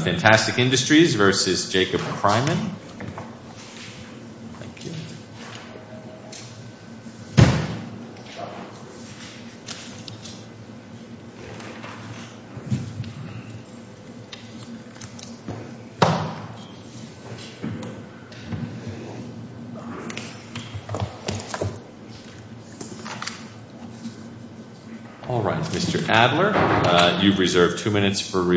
Fantastic Industries, Inc. v. Jacob Kryman Good morning. May it please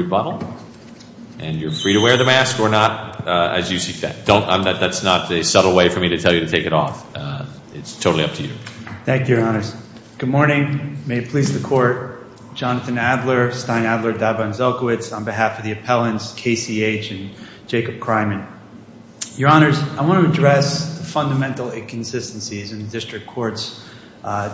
the Court, Jonathan Adler, Stein Adler, Davon Zelkowicz, on behalf of the appellants K.C.H. and Jacob Kryman. Your Honors, I want to address the fundamental inconsistencies in the District Court's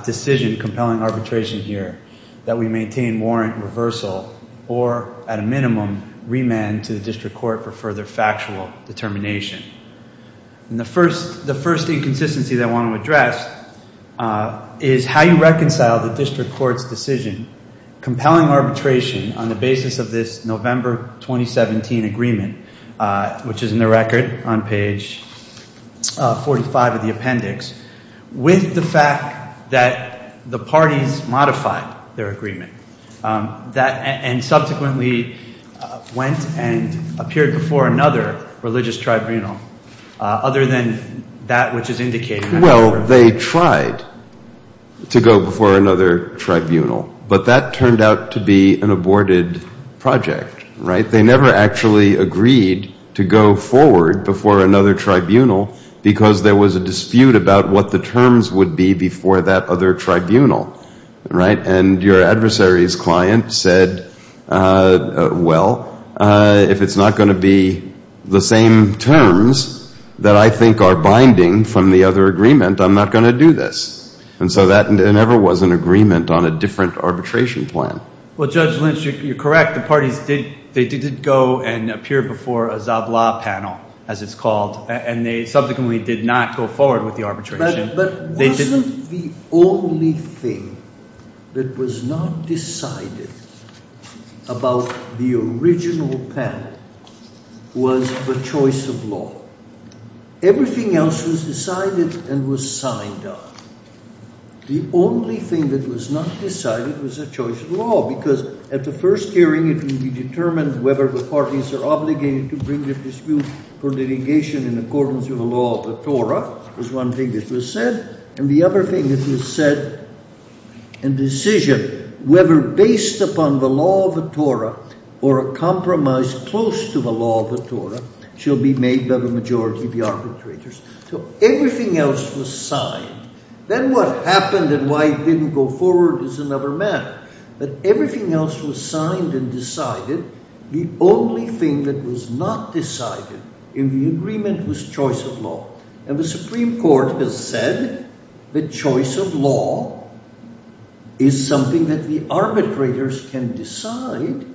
decision compelling arbitration here that we maintain warrant reversal or, at a minimum, remand to the District Court for further factual determination. The first inconsistency I want to address is how you reconcile the District Court's decision compelling arbitration on the basis of this November 2017 agreement, which is that the parties modified their agreement and subsequently went and appeared before another religious tribunal other than that which is indicated in that agreement. Well, they tried to go before another tribunal, but that turned out to be an aborted project. They never actually agreed to go forward before another tribunal because there was a dispute about what the terms would be before that other tribunal, right? And your adversary's client said, well, if it's not going to be the same terms that I think are binding from the other agreement, I'm not going to do this. And so that never was an agreement on a different arbitration plan. Well, Judge Lynch, you're correct. The parties did go and appear before a Zablah panel, as it's called, and they subsequently did not go forward with the arbitration. But wasn't the only thing that was not decided about the original panel was a choice of law? Everything else was decided and was signed up. The only thing that was not decided was a choice of law, because at the first hearing it will be determined whether the parties are obligated to bring the dispute for litigation in accordance with the law of the Torah, was one thing that was said, and the other thing that was said in decision, whether based upon the law of the Torah or a compromise close to the law of the Torah, shall be made by the majority of the arbitrators. So everything else was signed. Then what happened and why it didn't go forward is another matter. But everything else was signed and decided. The only thing that was not decided in the agreement was choice of law. And the Supreme Court has said that choice of law is something that the arbitrators can decide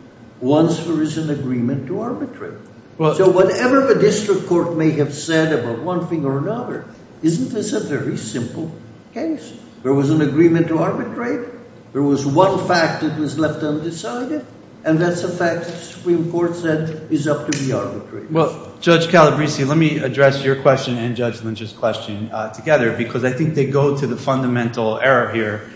once there is an agreement to arbitrate. So whatever the district court may have said about one thing or another, isn't this a very simple case? There was an agreement to arbitrate. There was one fact that was left undecided. And that's a fact the Supreme Court said is up to the arbitrators. Well, Judge Calabresi, let me address your question and Judge Lynch's question together, because I think they go to the fundamental error here,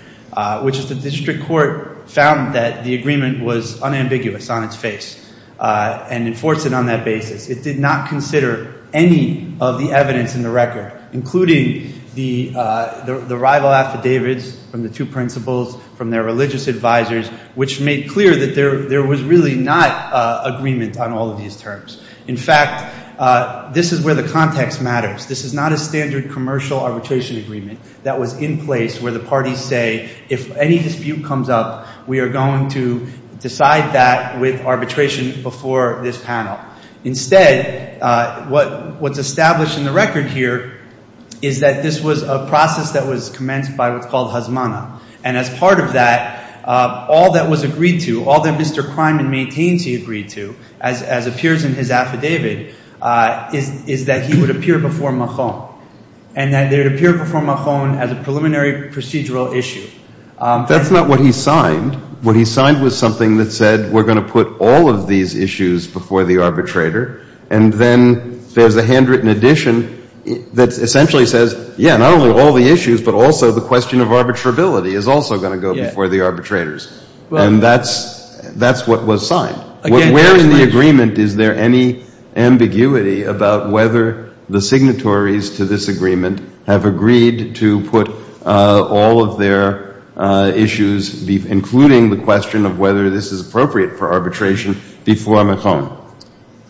which is the district court found that the agreement was unambiguous on its face and enforced it on that basis. It did not consider any of the evidence in the record, including the rival affidavits from the two principals, from their religious advisors, which made clear that there was really not agreement on all of these terms. In fact, this is where the context matters. This is not a standard commercial arbitration agreement that was in place where the parties say if any dispute comes up, we are going to decide that with arbitration before this panel. Instead, what's established in the record here is that this was a process that was commenced by what's called hazmana. And as part of that, all that was agreed to, all that Mr. Kreiman maintains he agreed to, as appears in his affidavit, is that he would appear before Mahon. And that he would appear before Mahon as a preliminary procedural issue. That's not what he signed. What he signed was something that said we're going to put all of these issues before the arbitrator. And then there's a handwritten addition that essentially says, yeah, not only all the issues, but also the question of arbitrability is also going to go before the arbitrators. And that's what was signed. Where in the agreement is there any ambiguity about whether the signatories to this agreement have agreed to put all of their issues, including the question of whether this is appropriate for arbitration, before Mahon?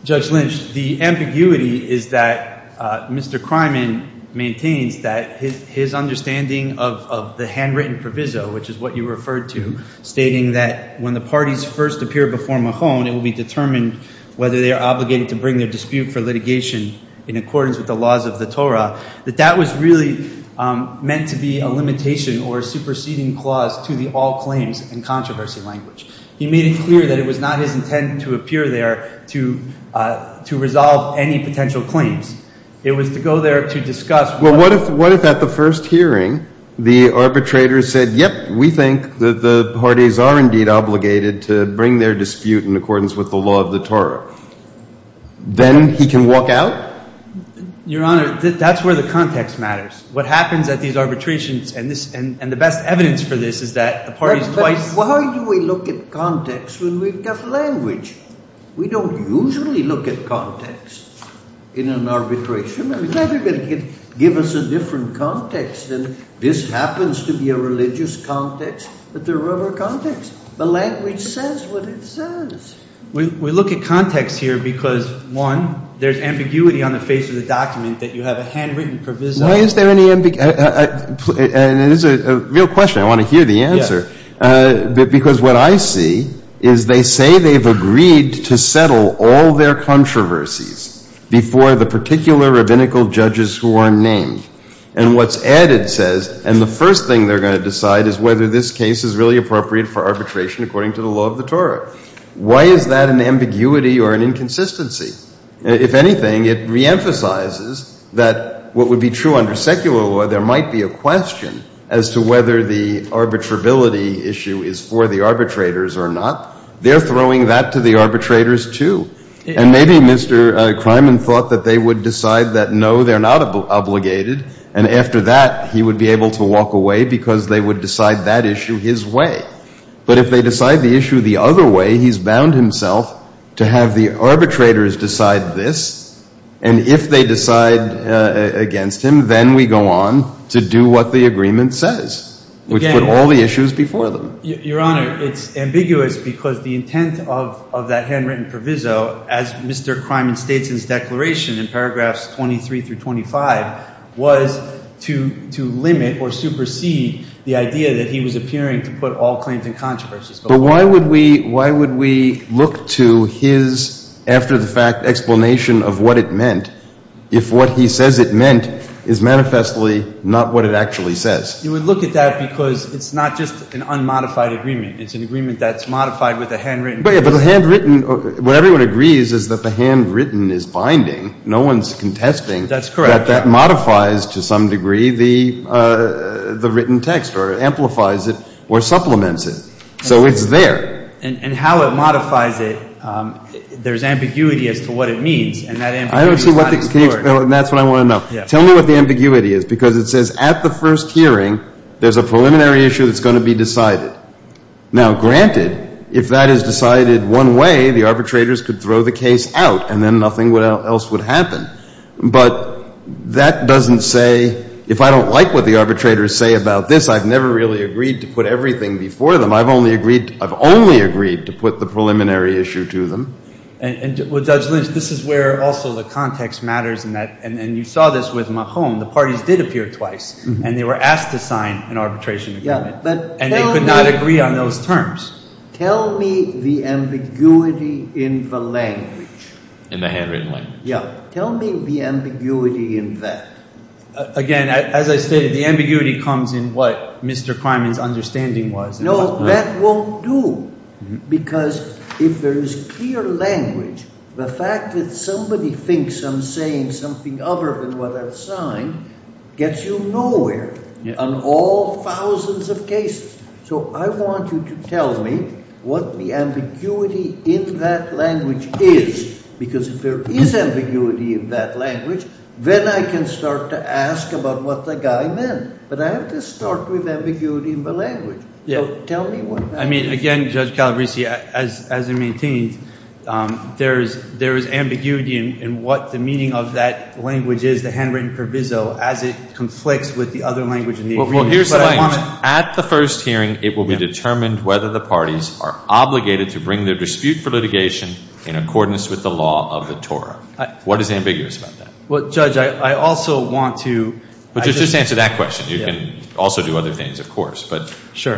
Judge Lynch, the ambiguity is that Mr. Kreiman maintains that his understanding of the handwritten proviso, which is what you referred to, stating that when the parties first appear before Mahon, it will be determined whether they are obligated to bring their dispute for litigation in accordance with the laws of the Torah, that that was really meant to be a limitation or a superseding clause to the all claims and controversy language. He made it clear that it was not his intent to appear there to resolve any potential claims. It was to go there to discuss what- Well, what if at the first hearing, the arbitrator said, yep, we think that the parties are indeed obligated to bring their dispute in accordance with the law of the Torah? Then he can walk out? Your Honor, that's where the context matters. What happens at these arbitrations, and the best evidence for this is that the parties twice- Why do we look at context when we've got language? We don't usually look at context in an arbitration. I mean, everybody can give us a different context, and this happens to be a religious context, but there are other contexts. The language says what it says. We look at context here because, one, there's ambiguity on the face of the document that you have a handwritten proviso- Why is there any ambiguity? And it is a real question. I want to hear the answer. Because what I see is they say they've agreed to settle all their controversies before the particular rabbinical judges who are named. And what's added says, and the first thing they're going to decide is whether this case is really appropriate for arbitration according to the law of the Torah. Why is that an ambiguity or an inconsistency? If anything, it reemphasizes that what would be true under secular law, there might be a question as to whether the arbitrability issue is for the arbitrators or not. They're throwing that to the arbitrators, too. And maybe Mr. Kreiman thought that they would decide that, no, they're not obligated. And after that, he would be able to walk away because they would decide that issue his way. But if they decide the issue the other way, he's bound himself to have the arbitrators decide this. And if they decide against him, then we go on to do what the agreement says, which put all the issues before them. Your Honor, it's ambiguous because the intent of that handwritten proviso, as Mr. Kreiman states in his declaration in paragraphs 23 through 25, was to limit or supersede the claims and controversies. But why would we look to his, after the fact, explanation of what it meant if what he says it meant is manifestly not what it actually says? You would look at that because it's not just an unmodified agreement. It's an agreement that's modified with a handwritten proviso. But the handwritten, what everyone agrees is that the handwritten is binding. No one's contesting that that modifies, to some degree, the written text or amplifies it or supplements it. So it's there. And how it modifies it, there's ambiguity as to what it means, and that ambiguity is not explored. I don't see what the – can you – that's what I want to know. Yeah. Tell me what the ambiguity is, because it says at the first hearing there's a preliminary issue that's going to be decided. Now granted, if that is decided one way, the arbitrators could throw the case out and then nothing else would happen. But that doesn't say – if I don't like what the arbitrators say about this, I've never really agreed to put everything before them. I've only agreed – I've only agreed to put the preliminary issue to them. And – well, Judge Lynch, this is where also the context matters in that – and you saw this with Mahon. The parties did appear twice, and they were asked to sign an arbitration agreement. Yeah. But tell me – And they could not agree on those terms. Tell me the ambiguity in the language. In the handwritten language. Yeah. Tell me the ambiguity in that. Again, as I stated, the ambiguity comes in what Mr. Kreiman's understanding was. No, that won't do, because if there is clear language, the fact that somebody thinks I'm saying something other than what I've signed gets you nowhere on all thousands of cases. So I want you to tell me what the ambiguity in that language is, because if there is ambiguity in that language, then I can start to ask about what the guy meant. But I have to start with ambiguity in the language. So tell me what that is. I mean, again, Judge Calabresi, as it maintains, there is ambiguity in what the meaning of that language is, the handwritten proviso, as it conflicts with the other language in the agreement. Well, here's the language. At the first hearing, it will be determined whether the parties are obligated to bring their dispute for litigation in accordance with the law of the Torah. What is ambiguous about that? Well, Judge, I also want to... But just answer that question. You can also do other things, of course. But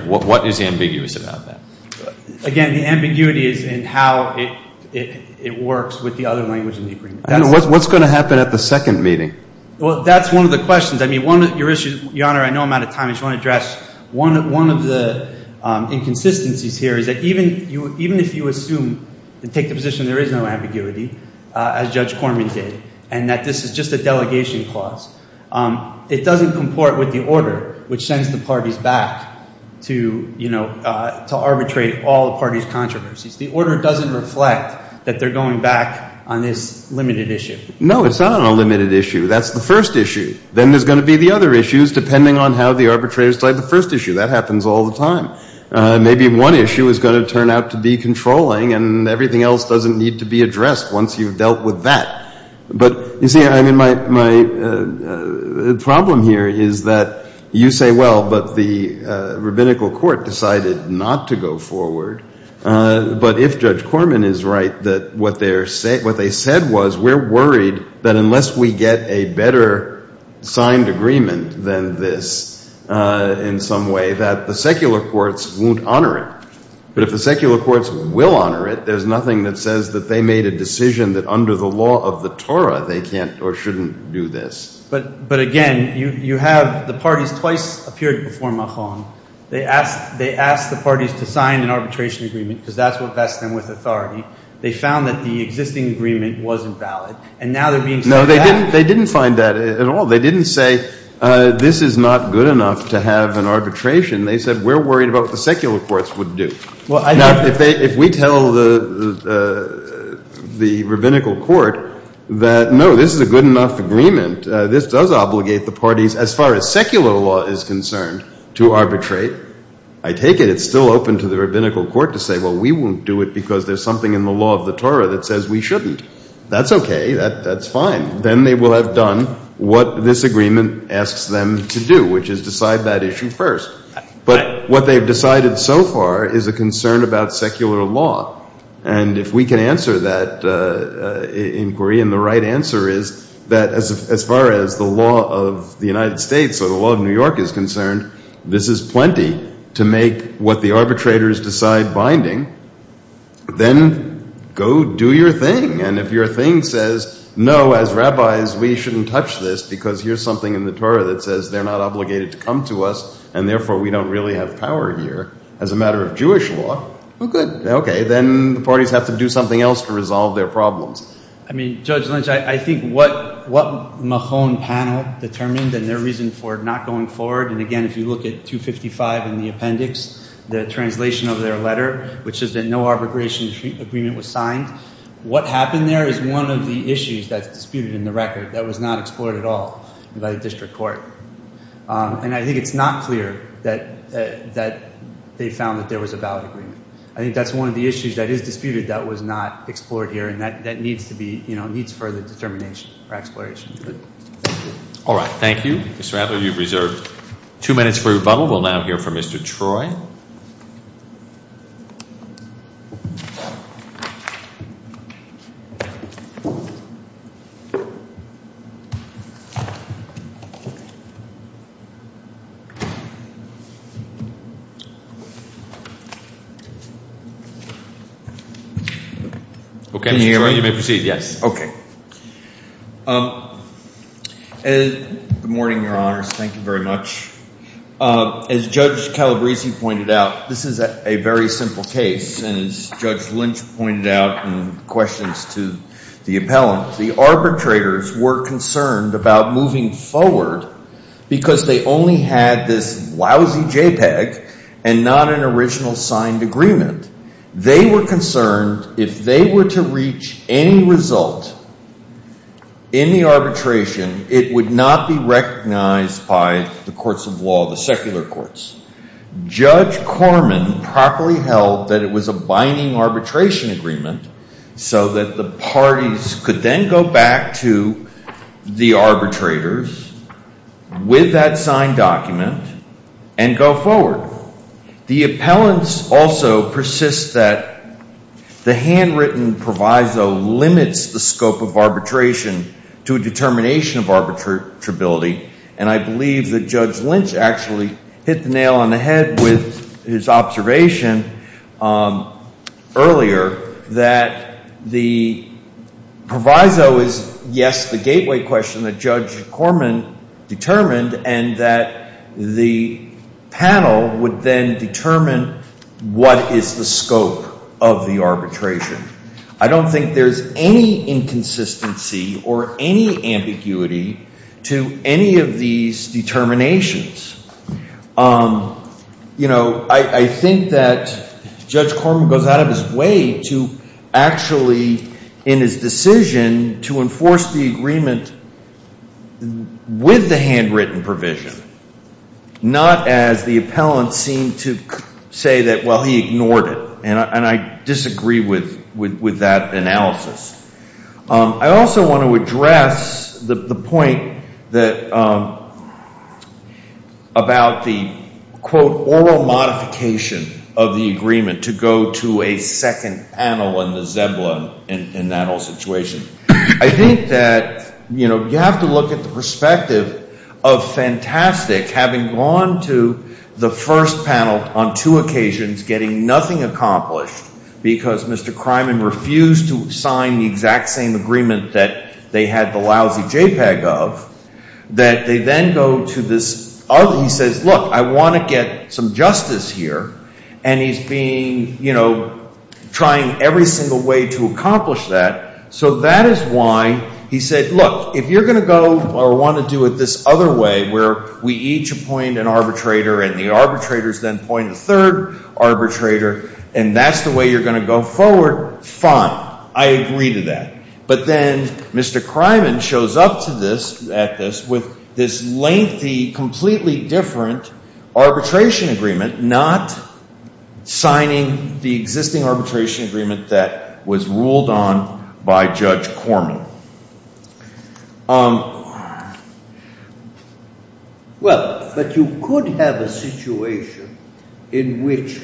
what is ambiguous about that? Again, the ambiguity is in how it works with the other language in the agreement. What's going to happen at the second meeting? Well, that's one of the questions. I mean, one of your issues, Your Honor, I know I'm out of time. I just want to address one of the inconsistencies here is that even if you assume and take the that this is just a delegation clause, it doesn't comport with the order which sends the parties back to, you know, to arbitrate all the parties' controversies. The order doesn't reflect that they're going back on this limited issue. No, it's not on a limited issue. That's the first issue. Then there's going to be the other issues, depending on how the arbitrators decide the first issue. That happens all the time. Maybe one issue is going to turn out to be controlling, and everything else doesn't need to be addressed. Once you've dealt with that. But, you see, I mean, my problem here is that you say, well, but the rabbinical court decided not to go forward. But if Judge Corman is right that what they said was we're worried that unless we get a better signed agreement than this in some way that the secular courts won't honor it. But if the secular courts will honor it, there's nothing that says that they made a decision that under the law of the Torah they can't or shouldn't do this. But, again, you have the parties twice appeared before Mahan. They asked the parties to sign an arbitration agreement because that's what vests them with authority. They found that the existing agreement wasn't valid. And now they're being said that. No, they didn't find that at all. They didn't say this is not good enough to have an arbitration. They said we're worried about what the secular courts would do. Now, if we tell the rabbinical court that, no, this is a good enough agreement, this does obligate the parties as far as secular law is concerned to arbitrate, I take it it's still open to the rabbinical court to say, well, we won't do it because there's something in the law of the Torah that says we shouldn't. That's OK. That's fine. Then they will have done what this agreement asks them to do, which is decide that issue first. But what they've decided so far is a concern about secular law. And if we can answer that inquiry, and the right answer is that as far as the law of the United States or the law of New York is concerned, this is plenty to make what the arbitrators decide binding, then go do your thing. And if your thing says, no, as rabbis, we shouldn't touch this because here's something in the Torah that says they're not obligated to come to us, and therefore we don't really have power here as a matter of Jewish law, well, good. OK. Then the parties have to do something else to resolve their problems. I mean, Judge Lynch, I think what Mahon panel determined and their reason for not going forward, and again, if you look at 255 in the appendix, the translation of their letter, which is that no arbitration agreement was signed, what happened there is one of the issues that was not explored here. And I think it's not clear that they found that there was a ballot agreement. I think that's one of the issues that is disputed that was not explored here, and that needs further determination or exploration. Thank you. All right. Thank you. Mr. Adler, you've reserved two minutes for rebuttal. We'll now hear from Mr. Troy. Mr. Troy. Mr. Adler. Okay. Mr. Troy, you may proceed. Yes. Okay. Good morning, Your Honors. Thank you very much. As Judge Calabresi pointed out, this is a very simple case. And as Judge Lynch pointed out in questions to the appellant, the arbitrators were concerned about moving forward because they only had this lousy JPEG and not an original signed agreement. They were concerned if they were to reach any result in the arbitration, it would not be recognized by the courts of law, the secular courts. Judge Corman properly held that it was a binding arbitration agreement so that the parties could then go back to the arbitrators with that signed document and go forward. The appellants also persist that the handwritten proviso limits the scope of arbitration to a determination of arbitrability, and I believe that Judge Lynch actually hit the nail on the head. Proviso is, yes, the gateway question that Judge Corman determined and that the panel would then determine what is the scope of the arbitration. I don't think there's any inconsistency or any ambiguity to any of these determinations. You know, I think that Judge Corman goes out of his way to actually, in his decision, to enforce the agreement with the handwritten provision, not as the appellant seemed to say that, well, he ignored it, and I disagree with that analysis. I also want to address the point about the, quote, oral modification of the agreement to go to a second panel and the zebla in that whole situation. I think that, you know, you have to look at the perspective of Fantastic having gone to the first panel on two occasions getting nothing accomplished because Mr. Criman refused to make the exact same agreement that they had the lousy JPEG of, that they then go to this other, he says, look, I want to get some justice here, and he's being, you know, trying every single way to accomplish that. So that is why he said, look, if you're going to go or want to do it this other way where we each appoint an arbitrator and the arbitrators then appoint a third arbitrator and that's the way you're going to go forward, fine. I agree to that. But then Mr. Criman shows up to this, at this, with this lengthy, completely different arbitration agreement, not signing the existing arbitration agreement that was ruled on by Judge Corman. Well, but you could have a situation in which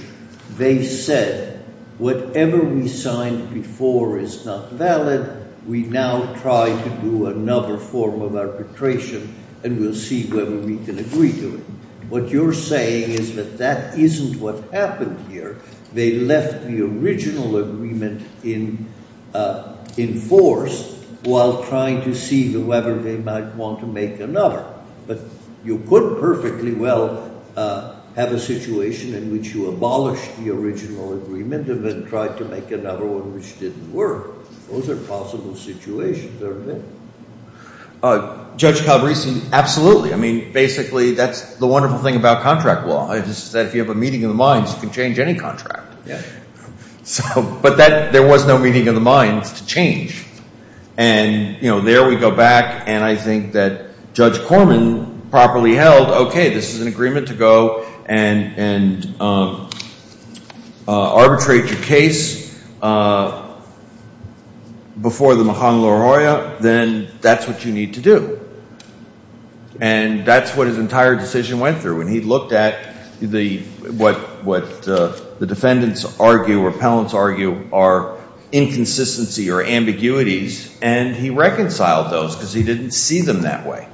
they said, whatever we signed before is not valid, we now try to do another form of arbitration and we'll see whether we can agree to it. What you're saying is that that isn't what happened here. They left the original agreement in force while trying to see whether they might want to make another. But you could perfectly well have a situation in which you abolished the original agreement and then tried to make another one which didn't work. Those are possible situations, aren't they? Judge Calabresi, absolutely. I mean, basically, that's the wonderful thing about contract law is that if you have a meeting of the minds, you can change any contract. But there was no meeting of the minds to change. And there we go back and I think that Judge Corman properly held, okay, this is an agreement to go and arbitrate your case before the mahan loa hoa, then that's what you need to do. And that's what his entire decision went through. And he looked at what the defendants argue or appellants argue are inconsistency or ambiguities and he reconciled those because he didn't see them that way.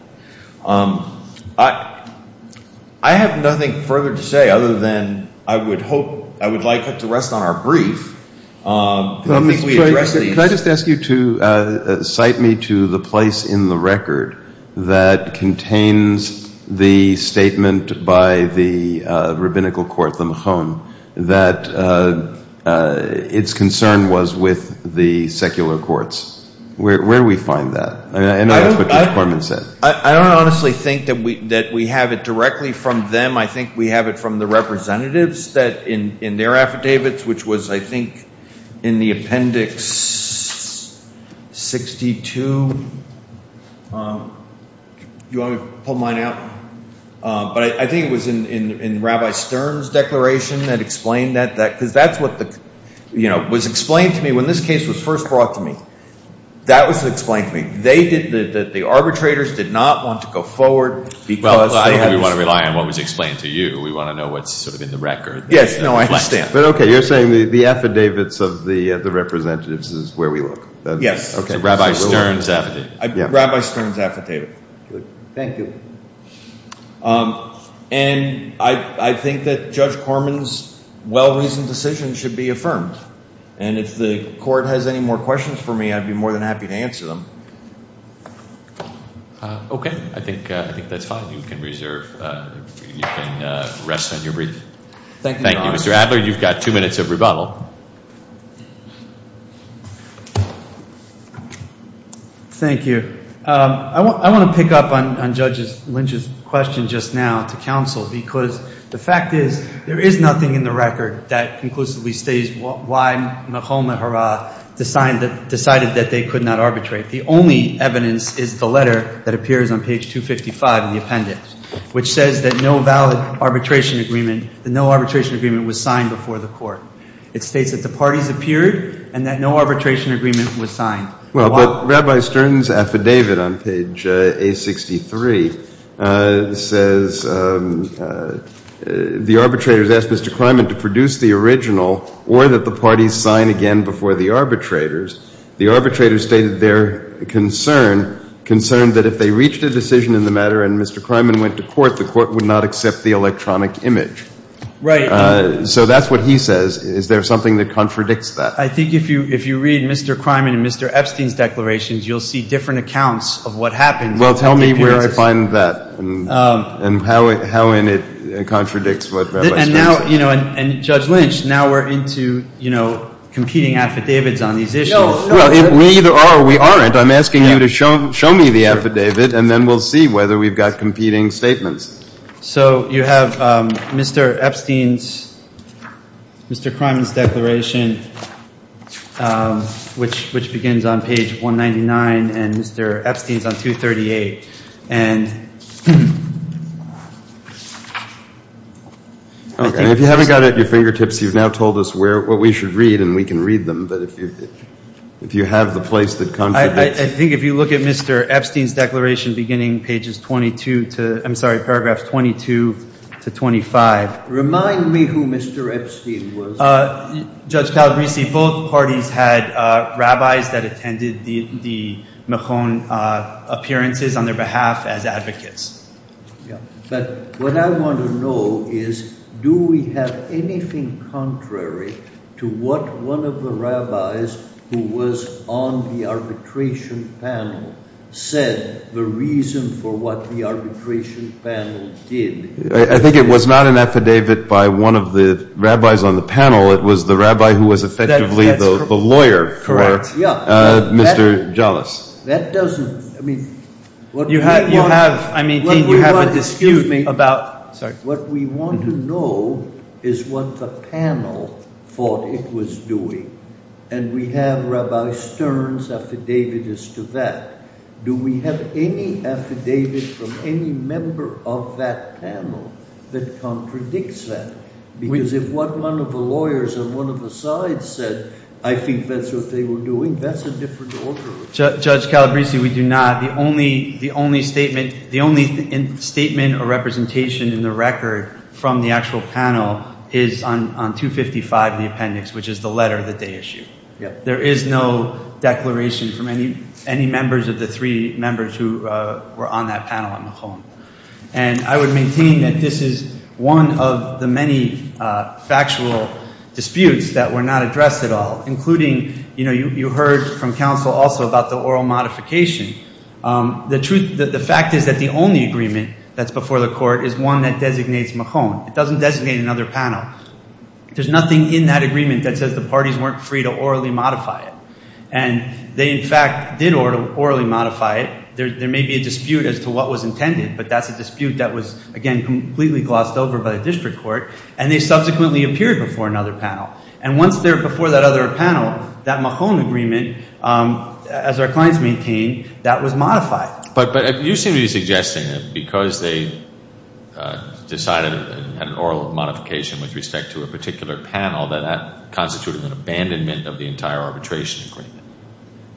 I have nothing further to say other than I would hope, I would like to rest on our brief. Can I just ask you to cite me to the place in the record that contains the statement by the rabbinical court, the mahan, that its concern was with the secular courts. Where do we find that? I know that's what Judge Corman said. I don't honestly think that we have it directly from them. I think we have it from the representatives that in their affidavits, which was, I think, in the appendix 62, do you want me to pull mine out? But I think it was in Rabbi Stern's declaration that explained that. Because that's what the, you know, was explained to me when this case was first brought to me. That was explained to me. They did, the arbitrators did not want to go forward because they had. Well, I don't think we want to rely on what was explained to you. We want to know what's sort of in the record. Yes, no, I understand. But, okay, you're saying the affidavits of the representatives is where we look. Yes, Rabbi Stern's affidavit. Rabbi Stern's affidavit. Thank you. And I think that Judge Corman's well-reasoned decision should be affirmed. And if the court has any more questions for me, I'd be more than happy to answer them. Okay, I think that's fine. You can reserve, you can rest on your brief. Thank you, Mr. Adler. I'm afraid you've got two minutes of rebuttal. Thank you. I want to pick up on Judge Lynch's question just now to counsel. Because the fact is, there is nothing in the record that conclusively states why Mahoma Hara decided that they could not arbitrate. The only evidence is the letter that appears on page 255 in the appendix, which says that no valid arbitration agreement, that no arbitration agreement was signed before the court. It states that the parties appeared, and that no arbitration agreement was signed. Well, but Rabbi Stern's affidavit on page A63 says, the arbitrators asked Mr. Kryman to produce the original, or that the parties sign again before the arbitrators. The arbitrators stated their concern, concern that if they reached a decision in the matter and Mr. Kryman went to court, the court would not accept the electronic image. Right. So that's what he says. Is there something that contradicts that? I think if you read Mr. Kryman and Mr. Epstein's declarations, you'll see different accounts of what happened. Well, tell me where I find that, and how in it contradicts what Rabbi Stern says. And Judge Lynch, now we're into competing affidavits on these issues. Well, we either are or we aren't. I'm asking you to show me the affidavit, and then we'll see whether we've got competing statements. So you have Mr. Epstein's, Mr. Kryman's declaration, which begins on page 199, and Mr. Epstein's on 238. And I think it's... Okay. If you haven't got it at your fingertips, you've now told us what we should read, and we can read them. But if you have the place that contradicts... I think if you look at Mr. Epstein's declaration beginning pages 22 to... I'm sorry, paragraphs 22 to 25. Remind me who Mr. Epstein was. Judge Calabresi, both parties had rabbis that attended the Mechon appearances on their behalf as advocates. Yeah. But what I want to know is, do we have anything contrary to what one of the rabbis who was on the arbitration panel said, the reason for what the arbitration panel did? I think it was not an affidavit by one of the rabbis on the panel. It was the rabbi who was effectively the lawyer for Mr. Jalas. That doesn't... I mean... Excuse me about... Sorry. What we want to know is what the panel thought it was doing. And we have Rabbi Stern's affidavit as to that. Do we have any affidavit from any member of that panel that contradicts that? Because if what one of the lawyers on one of the sides said, I think that's what they were doing. That's a different order. Judge Calabresi, we do not. The only statement or representation in the record from the actual panel is on 255 in the appendix, which is the letter that they issued. There is no declaration from any members of the three members who were on that panel on Mechon. And I would maintain that this is one of the many factual disputes that were not addressed at all. Including, you know, you heard from counsel also about the oral modification. The truth... The fact is that the only agreement that's before the court is one that designates Mechon. It doesn't designate another panel. There's nothing in that agreement that says the parties weren't free to orally modify it. And they, in fact, did orally modify it. There may be a dispute as to what was intended, but that's a dispute that was, again, completely glossed over by the district court. And they subsequently appeared before another panel. And once they're before that other panel, that Mechon agreement, as our clients maintain, that was modified. But you seem to be suggesting that because they decided an oral modification with respect to a particular panel, that that constituted an abandonment of the entire arbitration agreement.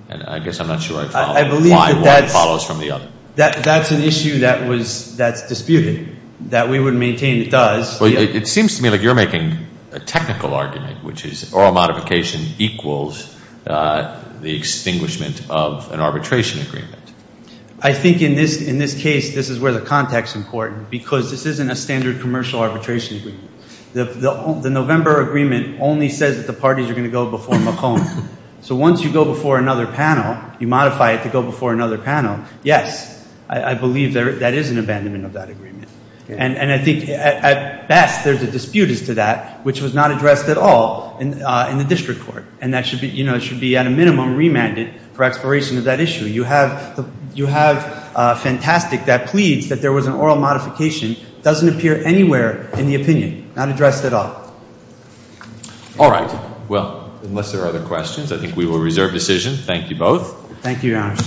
And I guess I'm not sure I follow. I believe that that's... Why? What follows from the other? That's an issue that's disputed. That we would maintain it does. It seems to me like you're making a technical argument, which is oral modification equals the extinguishment of an arbitration agreement. I think in this case, this is where the context is important, because this isn't a standard commercial arbitration agreement. The November agreement only says that the parties are going to go before Mechon. So once you go before another panel, you modify it to go before another panel, yes, I believe that is an abandonment of that agreement. And I think at best, there's a dispute as to that, which was not addressed at all in the district court. And that should be, you know, it should be at a minimum remanded for expiration of that issue. You have Fentastic that pleads that there was an oral modification, doesn't appear anywhere in the opinion. Not addressed at all. All right. Well, unless there are other questions, I think we will reserve decision. Thank you both. Thank you, Your Honor.